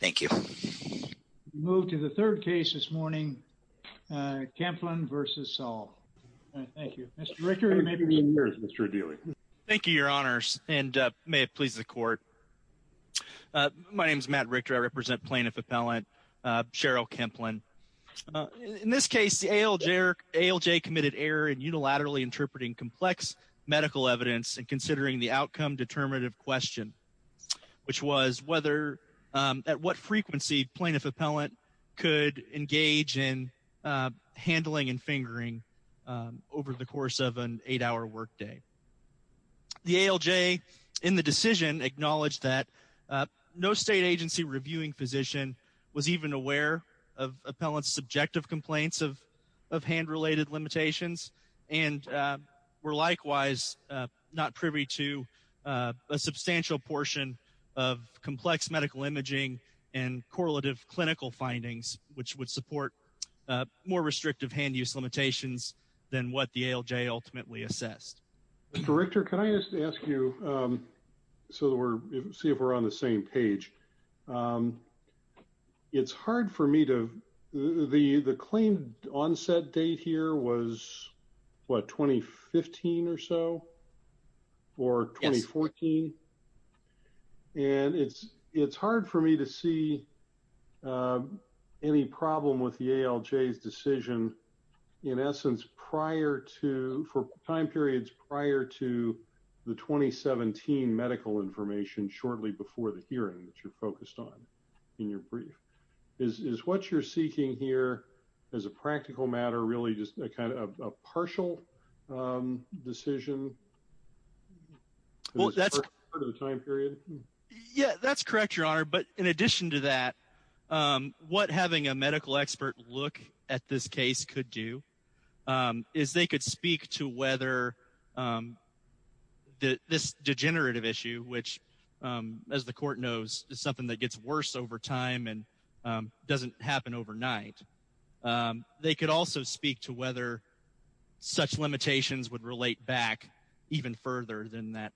Thank you. We move to the third case this morning, Kemplen v. Saul. Thank you. Mr. Richter, you may begin yours, Mr. O'Dealy. Thank you, Your Honors, and may it please the Court. My name is Matt Richter. I represent Plaintiff Appellant Cheryl Kemplen. In this case, the ALJ committed error in unilaterally interpreting complex medical evidence and at what frequency Plaintiff Appellant could engage in handling and fingering over the course of an eight-hour workday. The ALJ in the decision acknowledged that no state agency reviewing physician was even aware of Appellant's subjective complaints of hand-related limitations and were likewise not privy to a substantial portion of complex medical imaging and correlative clinical findings, which would support more restrictive hand-use limitations than what the ALJ ultimately assessed. Mr. Richter, can I just ask you, so that we're see if we're on the same page, it's hard for me to, the claim onset date here was, what, 2015 or so, or 2014, and it's hard for me to see any problem with the ALJ's decision, in essence, prior to, for time periods prior to the 2017 medical information shortly before the hearing that you're focused on in your brief. Is what you're seeking here, as a practical matter, really just a kind of a partial decision? Well, that's part of the time period. Yeah, that's correct, Your Honor. But in addition to that, what having a medical expert look at this case could do is they could speak to whether this degenerative issue, which, as the court knows, is something that doesn't happen overnight, they could also speak to whether such limitations would relate back even further than that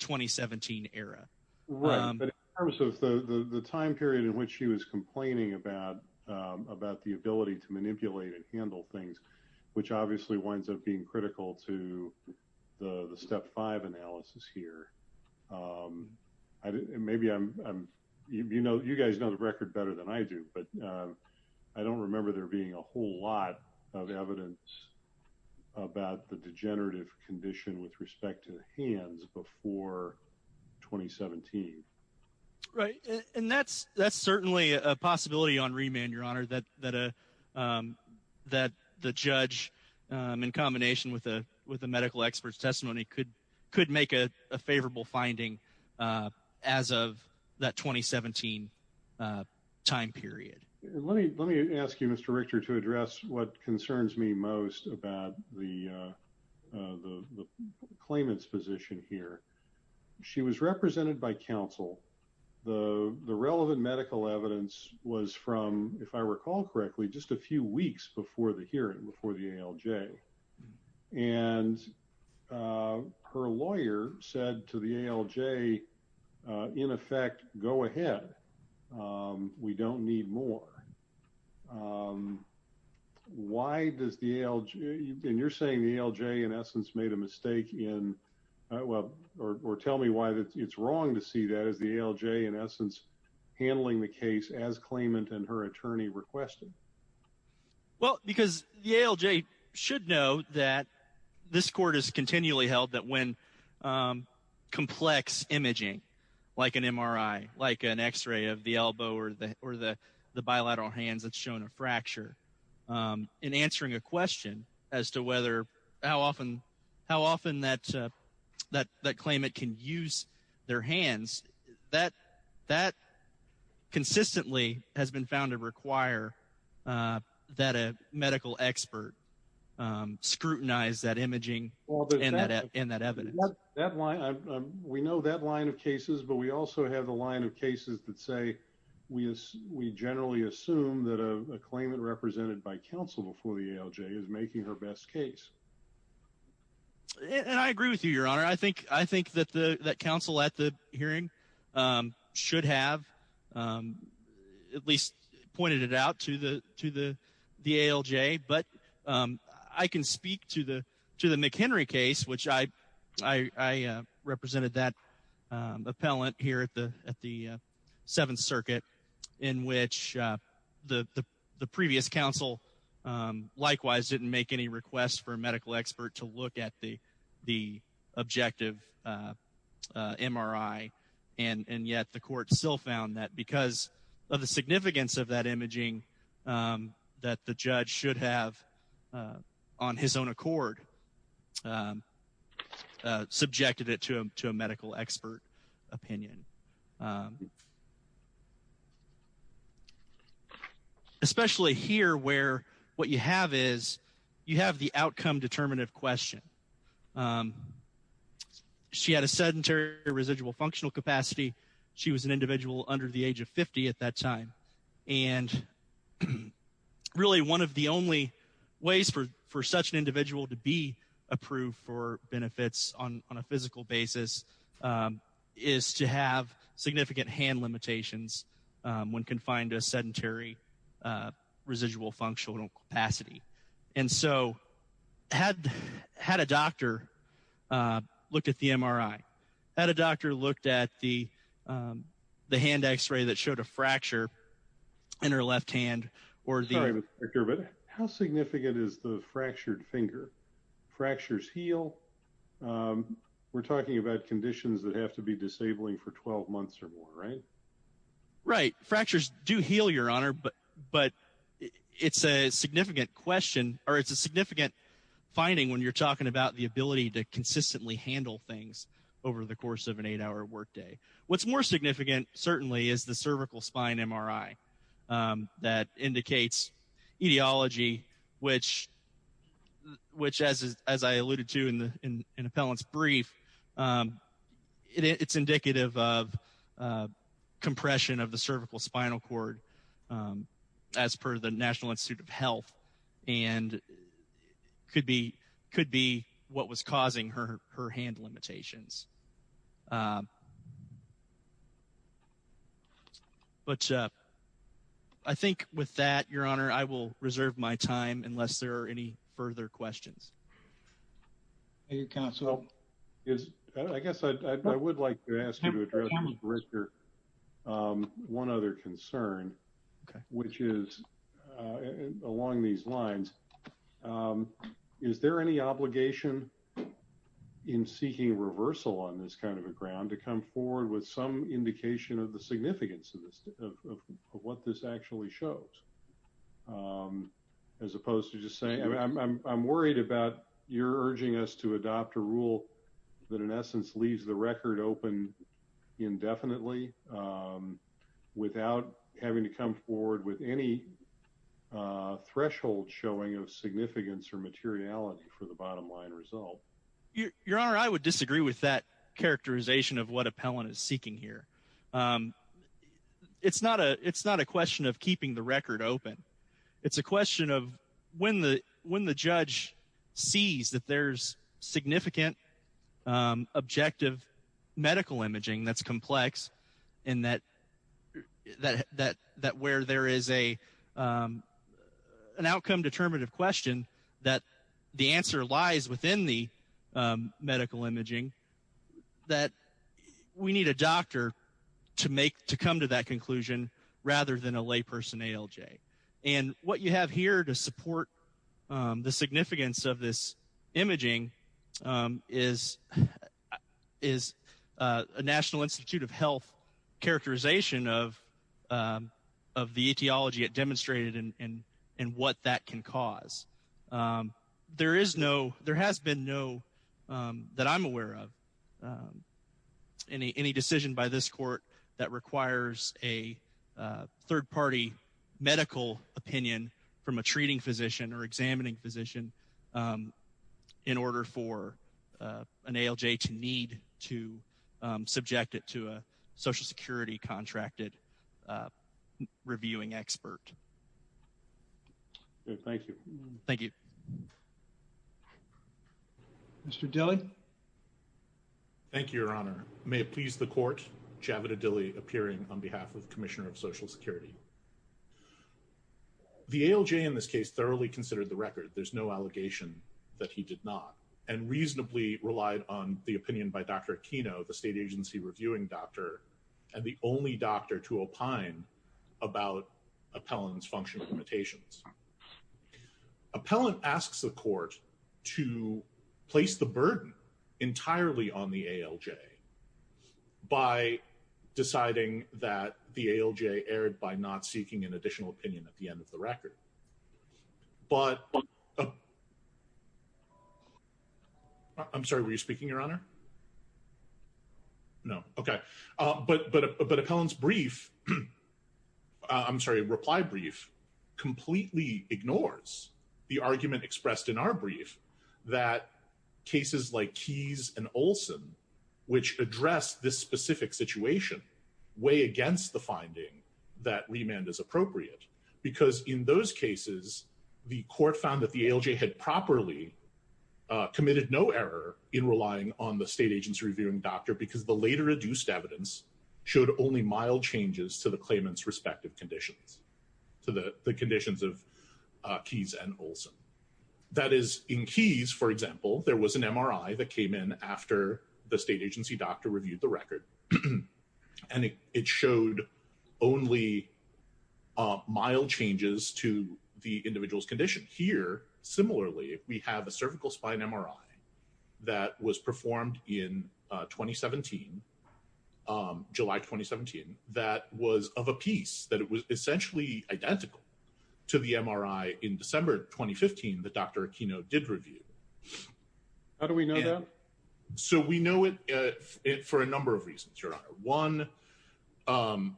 2017 era. Right, but in terms of the time period in which she was complaining about the ability to manipulate and handle things, which obviously winds up being critical to the Step 5 analysis here, maybe I'm, you know, you guys know the record better than I do, but I don't remember there being a whole lot of evidence about the degenerative condition with respect to hands before 2017. Right, and that's certainly a possibility on remand, Your Honor, that the judge, in favorable finding as of that 2017 time period. Let me ask you, Mr. Richter, to address what concerns me most about the claimant's position here. She was represented by counsel. The relevant medical evidence was from, if I recall correctly, just a few weeks before the hearing, before the ALJ. And her lawyer said to the ALJ, in effect, go ahead. We don't need more. Why does the ALJ, and you're saying the ALJ, in essence, made a mistake in, well, or tell me why it's wrong to see that as the ALJ, in essence, handling the case as claimant and her attorney requested. Well, because the ALJ should know that this court has continually held that when complex imaging, like an MRI, like an x-ray of the elbow or the bilateral hands that's shown a fracture, in answering a question as to whether, how often that claimant can use their that a medical expert scrutinize that imaging and that evidence. We know that line of cases, but we also have the line of cases that say we generally assume that a claimant represented by counsel before the ALJ is making her best case. And I agree with you, Your Honor. I think that counsel at the hearing should have at least pointed it out to the ALJ. But I can speak to the McHenry case, which I represented that appellant here at the Seventh Circuit in which the previous counsel, likewise, didn't make any request for a medical expert to look at the objective MRI. And yet the court still found that because of the significance of that imaging that the judge should have on his own accord subjected it to a medical expert opinion. Especially here, where what you have is, you have the outcome-determinative question. She had a sedentary residual functional capacity. She was an individual under the age of 50 at that time. And really, one of the only ways for such an individual to be approved for benefits on a physical basis is to have significant hand limitations when confined to a sedentary residual functional capacity. And so, had a doctor looked at the MRI, had a doctor looked at the hand x-ray that showed a fracture in her left hand, or the... Sorry, Mr. Griffith. How significant is the fractured finger? Fractures heal. We're talking about conditions that have to be disabling for 12 months or more, right? Right. Fractures do heal, Your Honor, but it's a significant question, or it's a significant finding when you're talking about the ability to consistently handle things over the course of an eight-hour workday. What's more significant, certainly, is the cervical spine MRI that indicates etiology, which as I alluded to in the appellant's brief, it's indicative of compression of the cervical spinal cord as per the National Institute of Health, and could be what was causing her hand limitations. But I think with that, Your Honor, I will reserve my time unless there are any further questions. Thank you, counsel. I guess I would like to ask you to address, Mr. Griffith, one other concern, which is along these lines. Is there any obligation in seeking reversal on this kind of a ground to come forward with some indication of the significance of what this actually shows? As opposed to just saying, I'm worried about your urging us to adopt a rule that in essence leaves the record open indefinitely without having to come forward with any threshold showing of significance or materiality for the bottom line result. Your Honor, I would disagree with that characterization of what appellant is seeking here. It's not a question of keeping the record open. It's a question of when the judge sees that there's significant objective medical imaging that's complex and that where there is an outcome-determinative question that the answer lies within the medical imaging, that we need a doctor to come to that conclusion rather than a layperson ALJ. And what you have here to support the significance of this imaging is a National Institute of Health characterization of the etiology it demonstrated and what that can cause. There is no, there has been no that I'm aware of, any decision by this court that requires a third-party medical opinion from a treating physician or examining physician in order for an ALJ to need to subject it to a social security contracted reviewing expert. Thank you. Thank you. Thank you, Your Honor. May it please the court, Javid Adili appearing on behalf of Commissioner of Social Security. The ALJ in this case thoroughly considered the record. There's no allegation that he did not and reasonably relied on the opinion by Dr. Aquino, the state agency reviewing doctor and the only doctor to opine about appellant's function limitations. Appellant asks the court to place the burden entirely on the ALJ by deciding that the ALJ erred by not seeking an additional opinion at the end of the record. But I'm sorry, were you speaking, Your Honor? No. Okay. But appellant's brief, I'm sorry, reply brief completely ignores the argument expressed in our brief that cases like Keyes and Olson, which address this specific situation, weigh against the finding that remand is appropriate. Because in those cases, the court found that the ALJ had properly committed no error in only mild changes to the claimant's respective conditions, to the conditions of Keyes and Olson. That is in Keyes, for example, there was an MRI that came in after the state agency doctor reviewed the record and it showed only mild changes to the individual's condition. Here, similarly, we have a cervical spine MRI that was performed in 2017, July 2017, that was of a piece that was essentially identical to the MRI in December 2015 that Dr. Aquino did review. How do we know that? So we know it for a number of reasons, Your Honor. Number one,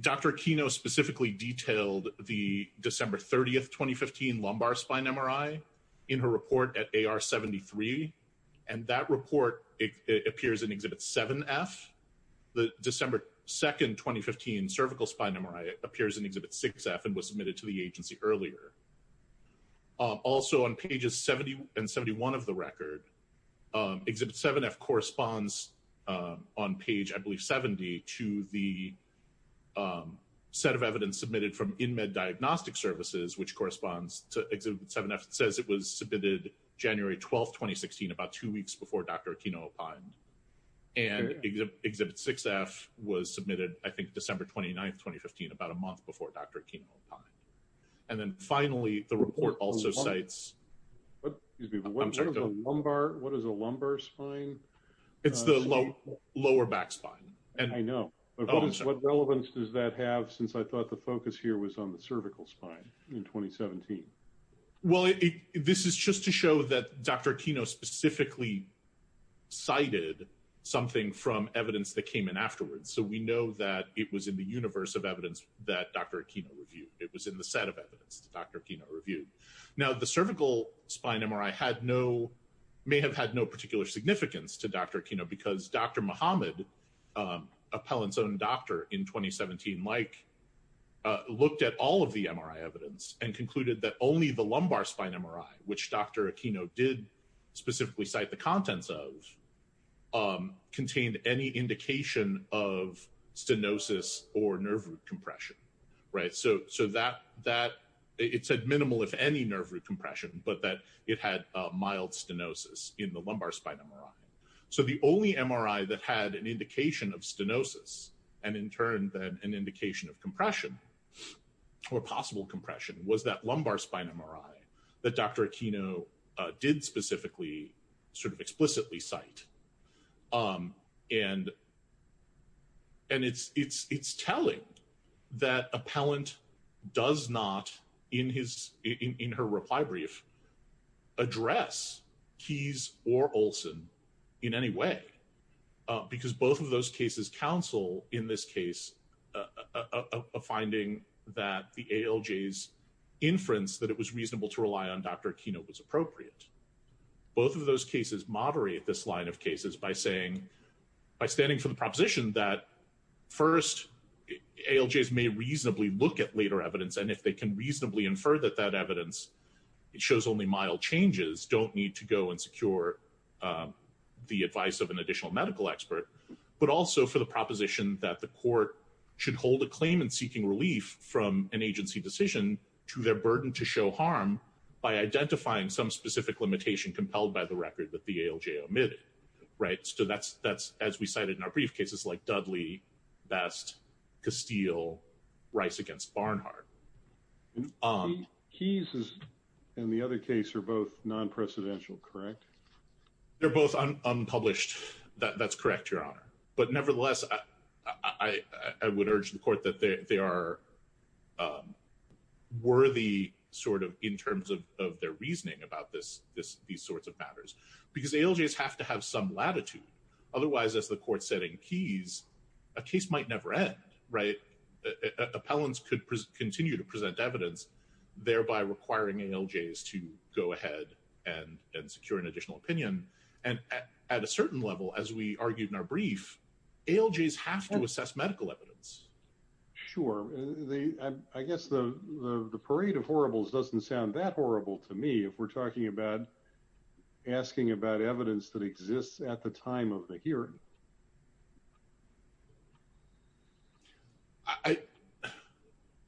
Dr. Aquino specifically detailed the December 30th, 2015 lumbar spine MRI in her report at AR73, and that report appears in Exhibit 7F. The December 2nd, 2015 cervical spine MRI appears in Exhibit 6F and was submitted to the agency earlier. Also, on pages 70 and 71 of the record, Exhibit 7F corresponds on page, I believe, 70 to the set of evidence submitted from In Med Diagnostic Services, which corresponds to Exhibit 7F says it was submitted January 12th, 2016, about two weeks before Dr. Aquino opined. And Exhibit 6F was submitted, I think, December 29th, 2015, about a month before Dr. Aquino opined. And then finally, the report also cites... Excuse me, what is a lumbar spine? It's the lower back spine. I know. But what relevance does that have since I thought the focus here was on the cervical spine in 2017? Well, this is just to show that Dr. Aquino specifically cited something from evidence that came in afterwards. So we know that it was in the universe of evidence that Dr. Aquino reviewed. It was in the set of evidence that Dr. Aquino reviewed. Now, the cervical spine MRI may have had no particular significance to Dr. Aquino because Dr. Muhammad, Appellant's own doctor in 2017, Mike, looked at all of the MRI evidence and concluded that only the lumbar spine MRI, which Dr. Aquino did specifically cite the contents of, contained any indication of stenosis or nerve root compression. So that it said minimal, if any, nerve root compression, but that it had mild stenosis in the lumbar spine MRI. So the only MRI that had an indication of stenosis and in turn that an indication of compression or possible compression was that lumbar spine MRI that Dr. Aquino did specifically sort of explicitly cite. And it's telling that Appellant does not, in her reply brief, address Keyes or Olson in any way, because both of those cases counsel in this case a finding that the ALJ's inference that it was reasonable to rely on Dr. Aquino was appropriate. Both of those cases moderate this line of cases by saying, by standing for the proposition that first, ALJs may reasonably look at later evidence and if they can reasonably infer that that evidence, it shows only mild changes, don't need to go and secure the advice of an additional medical expert, but also for the proposition that the court should hold a claim in seeking relief from an agency decision to their burden to show harm by identifying some specific limitation compelled by the record that the ALJ omitted, right? So that's as we cited in our brief cases like Dudley, Best, Castile, Rice against Barnhart. Keyes and the other case are both non-presidential, correct? They're both unpublished. That's correct, Your Honor. But nevertheless, I would urge the court that they are worthy sort of in terms of their reasoning about this, these sorts of matters, because ALJs have to have some latitude. Otherwise, as the court said in Keyes, a case might never end, right? Appellants could continue to present evidence, thereby requiring ALJs to go ahead and secure an additional opinion. And at a certain level, as we argued in our brief, ALJs have to assess medical evidence. Sure. I guess the parade of horribles doesn't sound that horrible to me if we're talking about asking about evidence that exists at the time of the hearing.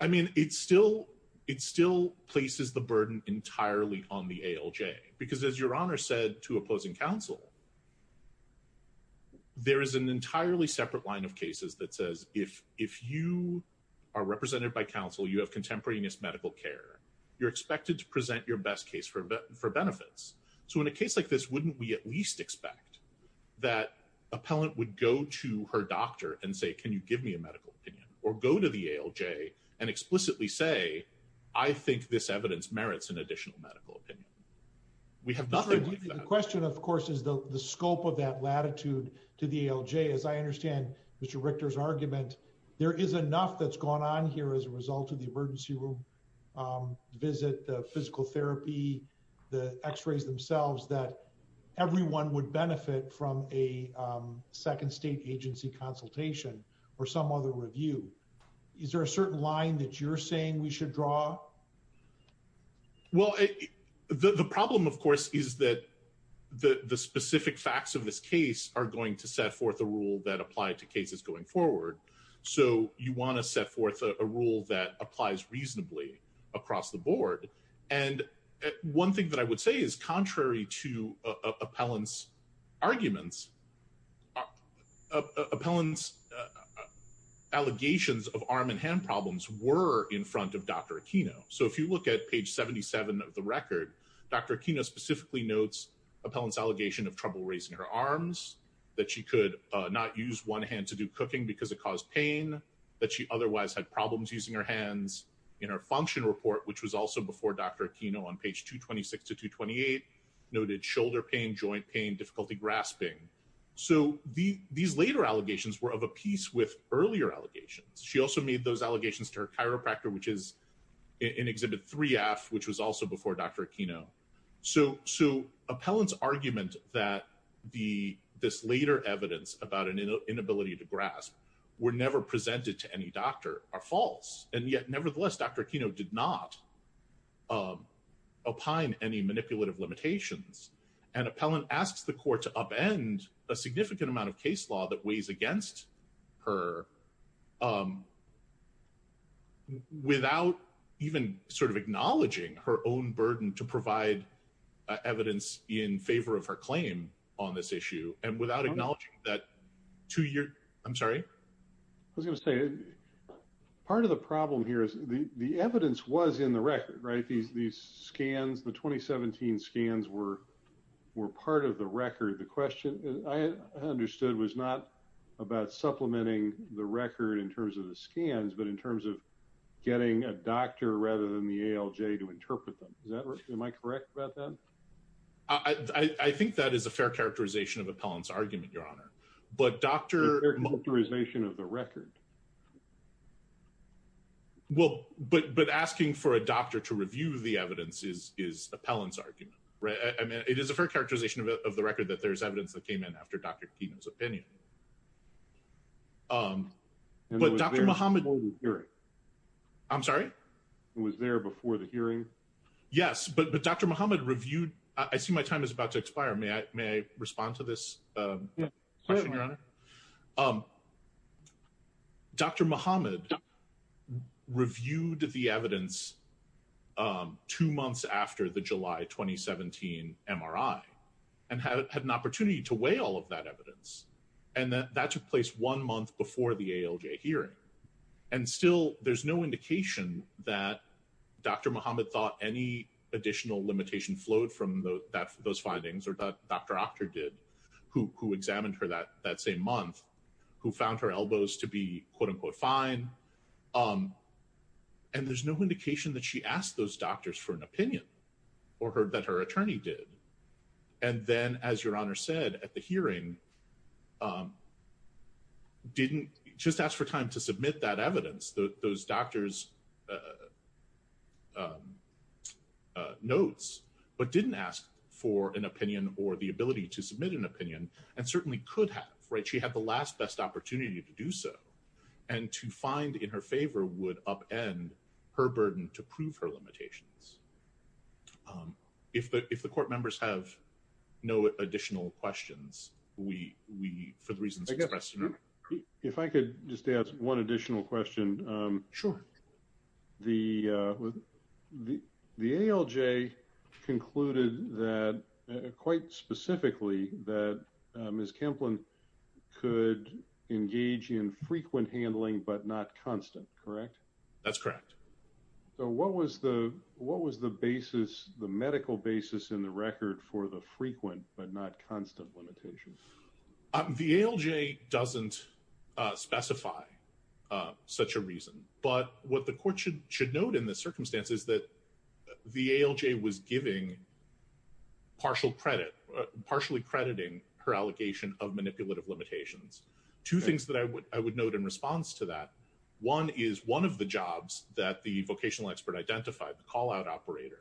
I mean, it still places the burden entirely on the ALJ. Because as Your Honor said to opposing counsel, there is an entirely separate line of cases that says if you are represented by counsel, you have contemporaneous medical care, you're expected to present your best case for benefits. So in a case like this, wouldn't we at least expect that appellant would go to her doctor and say, can you give me a medical opinion? Or go to the ALJ and explicitly say, I think this evidence merits an additional medical opinion. We have nothing like that. The question, of course, is the scope of that latitude to the ALJ. As I understand Mr. Richter's argument, there is enough that's gone on here as a result of the emergency room visit, the physical therapy, the x-rays themselves, that everyone would benefit from a second state agency consultation or some other review. Is there a certain line that you're saying we should draw? Well, the problem, of course, is that the specific facts of this case are going to set forth a rule that apply to cases going forward. So you want to set forth a rule that applies reasonably across the board. And one thing that I would say is contrary to appellant's arguments, appellant's allegations of arm and hand problems were in front of Dr. Aquino. So if you look at page 77 of the record, Dr. Aquino specifically notes appellant's allegation of trouble raising her arms, that she could not use one hand to do cooking because it caused pain, that she otherwise had problems using her hands. In her function report, which was also before Dr. Aquino on page 226 to 228, noted shoulder pain, joint pain, difficulty grasping. So these later allegations were of a piece with earlier allegations. She also made those allegations to her chiropractor, which is in exhibit 3F, which was also before Dr. Aquino. So appellant's argument that this later evidence about an inability to grasp were never presented to any doctor are false. And yet, nevertheless, Dr. Aquino did not opine any manipulative limitations. And appellant asks the court to upend a significant amount of case law that weighs against her without even sort of acknowledging her own burden to provide evidence in favor of her claim on this issue. And without acknowledging that two-year, I'm sorry? I was going to say, part of the problem here is the evidence was in the record, right? These scans, the 2017 scans were part of the record. The question I understood was not about supplementing the record in terms of the scans, but in terms of getting a doctor rather than the ALJ to interpret them. Am I correct about that? I think that is a fair characterization of appellant's argument, Your Honor. But doctor... Characterization of the record. Well, but asking for a doctor to review the evidence is appellant's argument, right? It is a fair characterization of the record that there's evidence that came in after Dr. Aquino's opinion. But Dr. Muhammad... I'm sorry? It was there before the hearing? Yes, but Dr. Muhammad reviewed... I see my time is about to expire. May I respond to this question, Your Honor? Dr. Muhammad reviewed the evidence two months after the July 2017 MRI and had an opportunity to weigh all of that evidence. And that took place one month before the ALJ hearing. And still, there's no indication that Dr. Muhammad thought any additional limitation flowed from those findings or that Dr. Octor did, who examined her that same month, who found her elbows to be quote-unquote fine. And there's no indication that she asked those doctors for an opinion or that her attorney did. And then, as Your Honor said at the hearing, didn't just ask for time to submit that evidence. Those doctors' notes, but didn't ask for an opinion or the ability to submit an opinion, and certainly could have. Right? She had the last best opportunity to do so. And to find in her favor would upend her burden to prove her limitations. If the court members have no additional questions, we, for the reasons expressed... If I could just ask one additional question. Sure. The ALJ concluded that, quite specifically, that Ms. Kemplin could engage in frequent handling but not constant, correct? That's correct. So, what was the medical basis in the record for the frequent but not constant limitations? The ALJ doesn't specify such a reason. But what the court should note in this circumstance is that the ALJ was giving partial credit, partially crediting her allegation of manipulative limitations. Two things that I would note in response to that. One is, one of the jobs that the vocational expert identified, the call-out operator,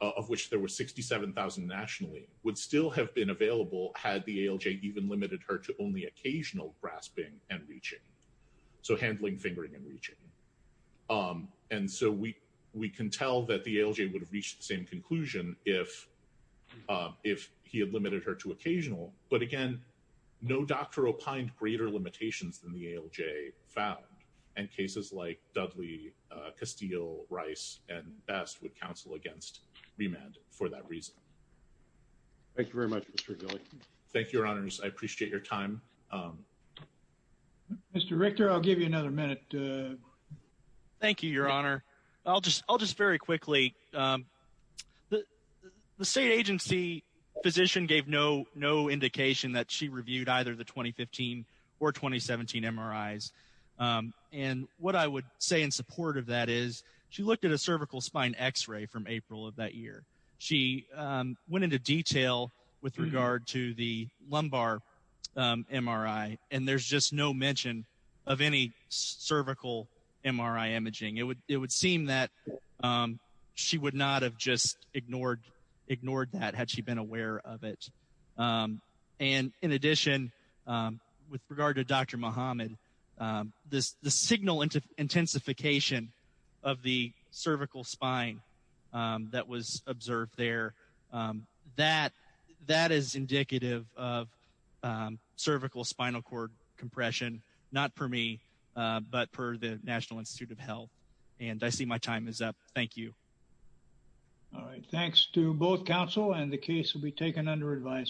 of which there were 67,000 nationally, would still have been available had the ALJ even limited her to only occasional grasping and reaching. So handling, fingering, and reaching. And so we can tell that the ALJ would have reached the same conclusion if he had limited her to occasional. But again, no doctor opined greater limitations than the ALJ found. And cases like Dudley, Castile, Rice, and Best would counsel against remand for that reason. Thank you very much, Mr. Gillick. Thank you, Your Honors. I appreciate your time. Mr. Richter, I'll give you another minute. Thank you, Your Honor. I'll just, I'll just very quickly, the state agency physician gave no indication that she And what I would say in support of that is, she looked at a cervical spine x-ray from April of that year. She went into detail with regard to the lumbar MRI. And there's just no mention of any cervical MRI imaging. It would seem that she would not have just ignored that had she been aware of it. And in addition, with regard to Dr. Muhammad, the signal intensification of the cervical spine that was observed there, that is indicative of cervical spinal cord compression. Not for me, but for the National Institute of Health. And I see my time is up. Thank you. All right. Thanks to both counsel and the case will be taken under advisory.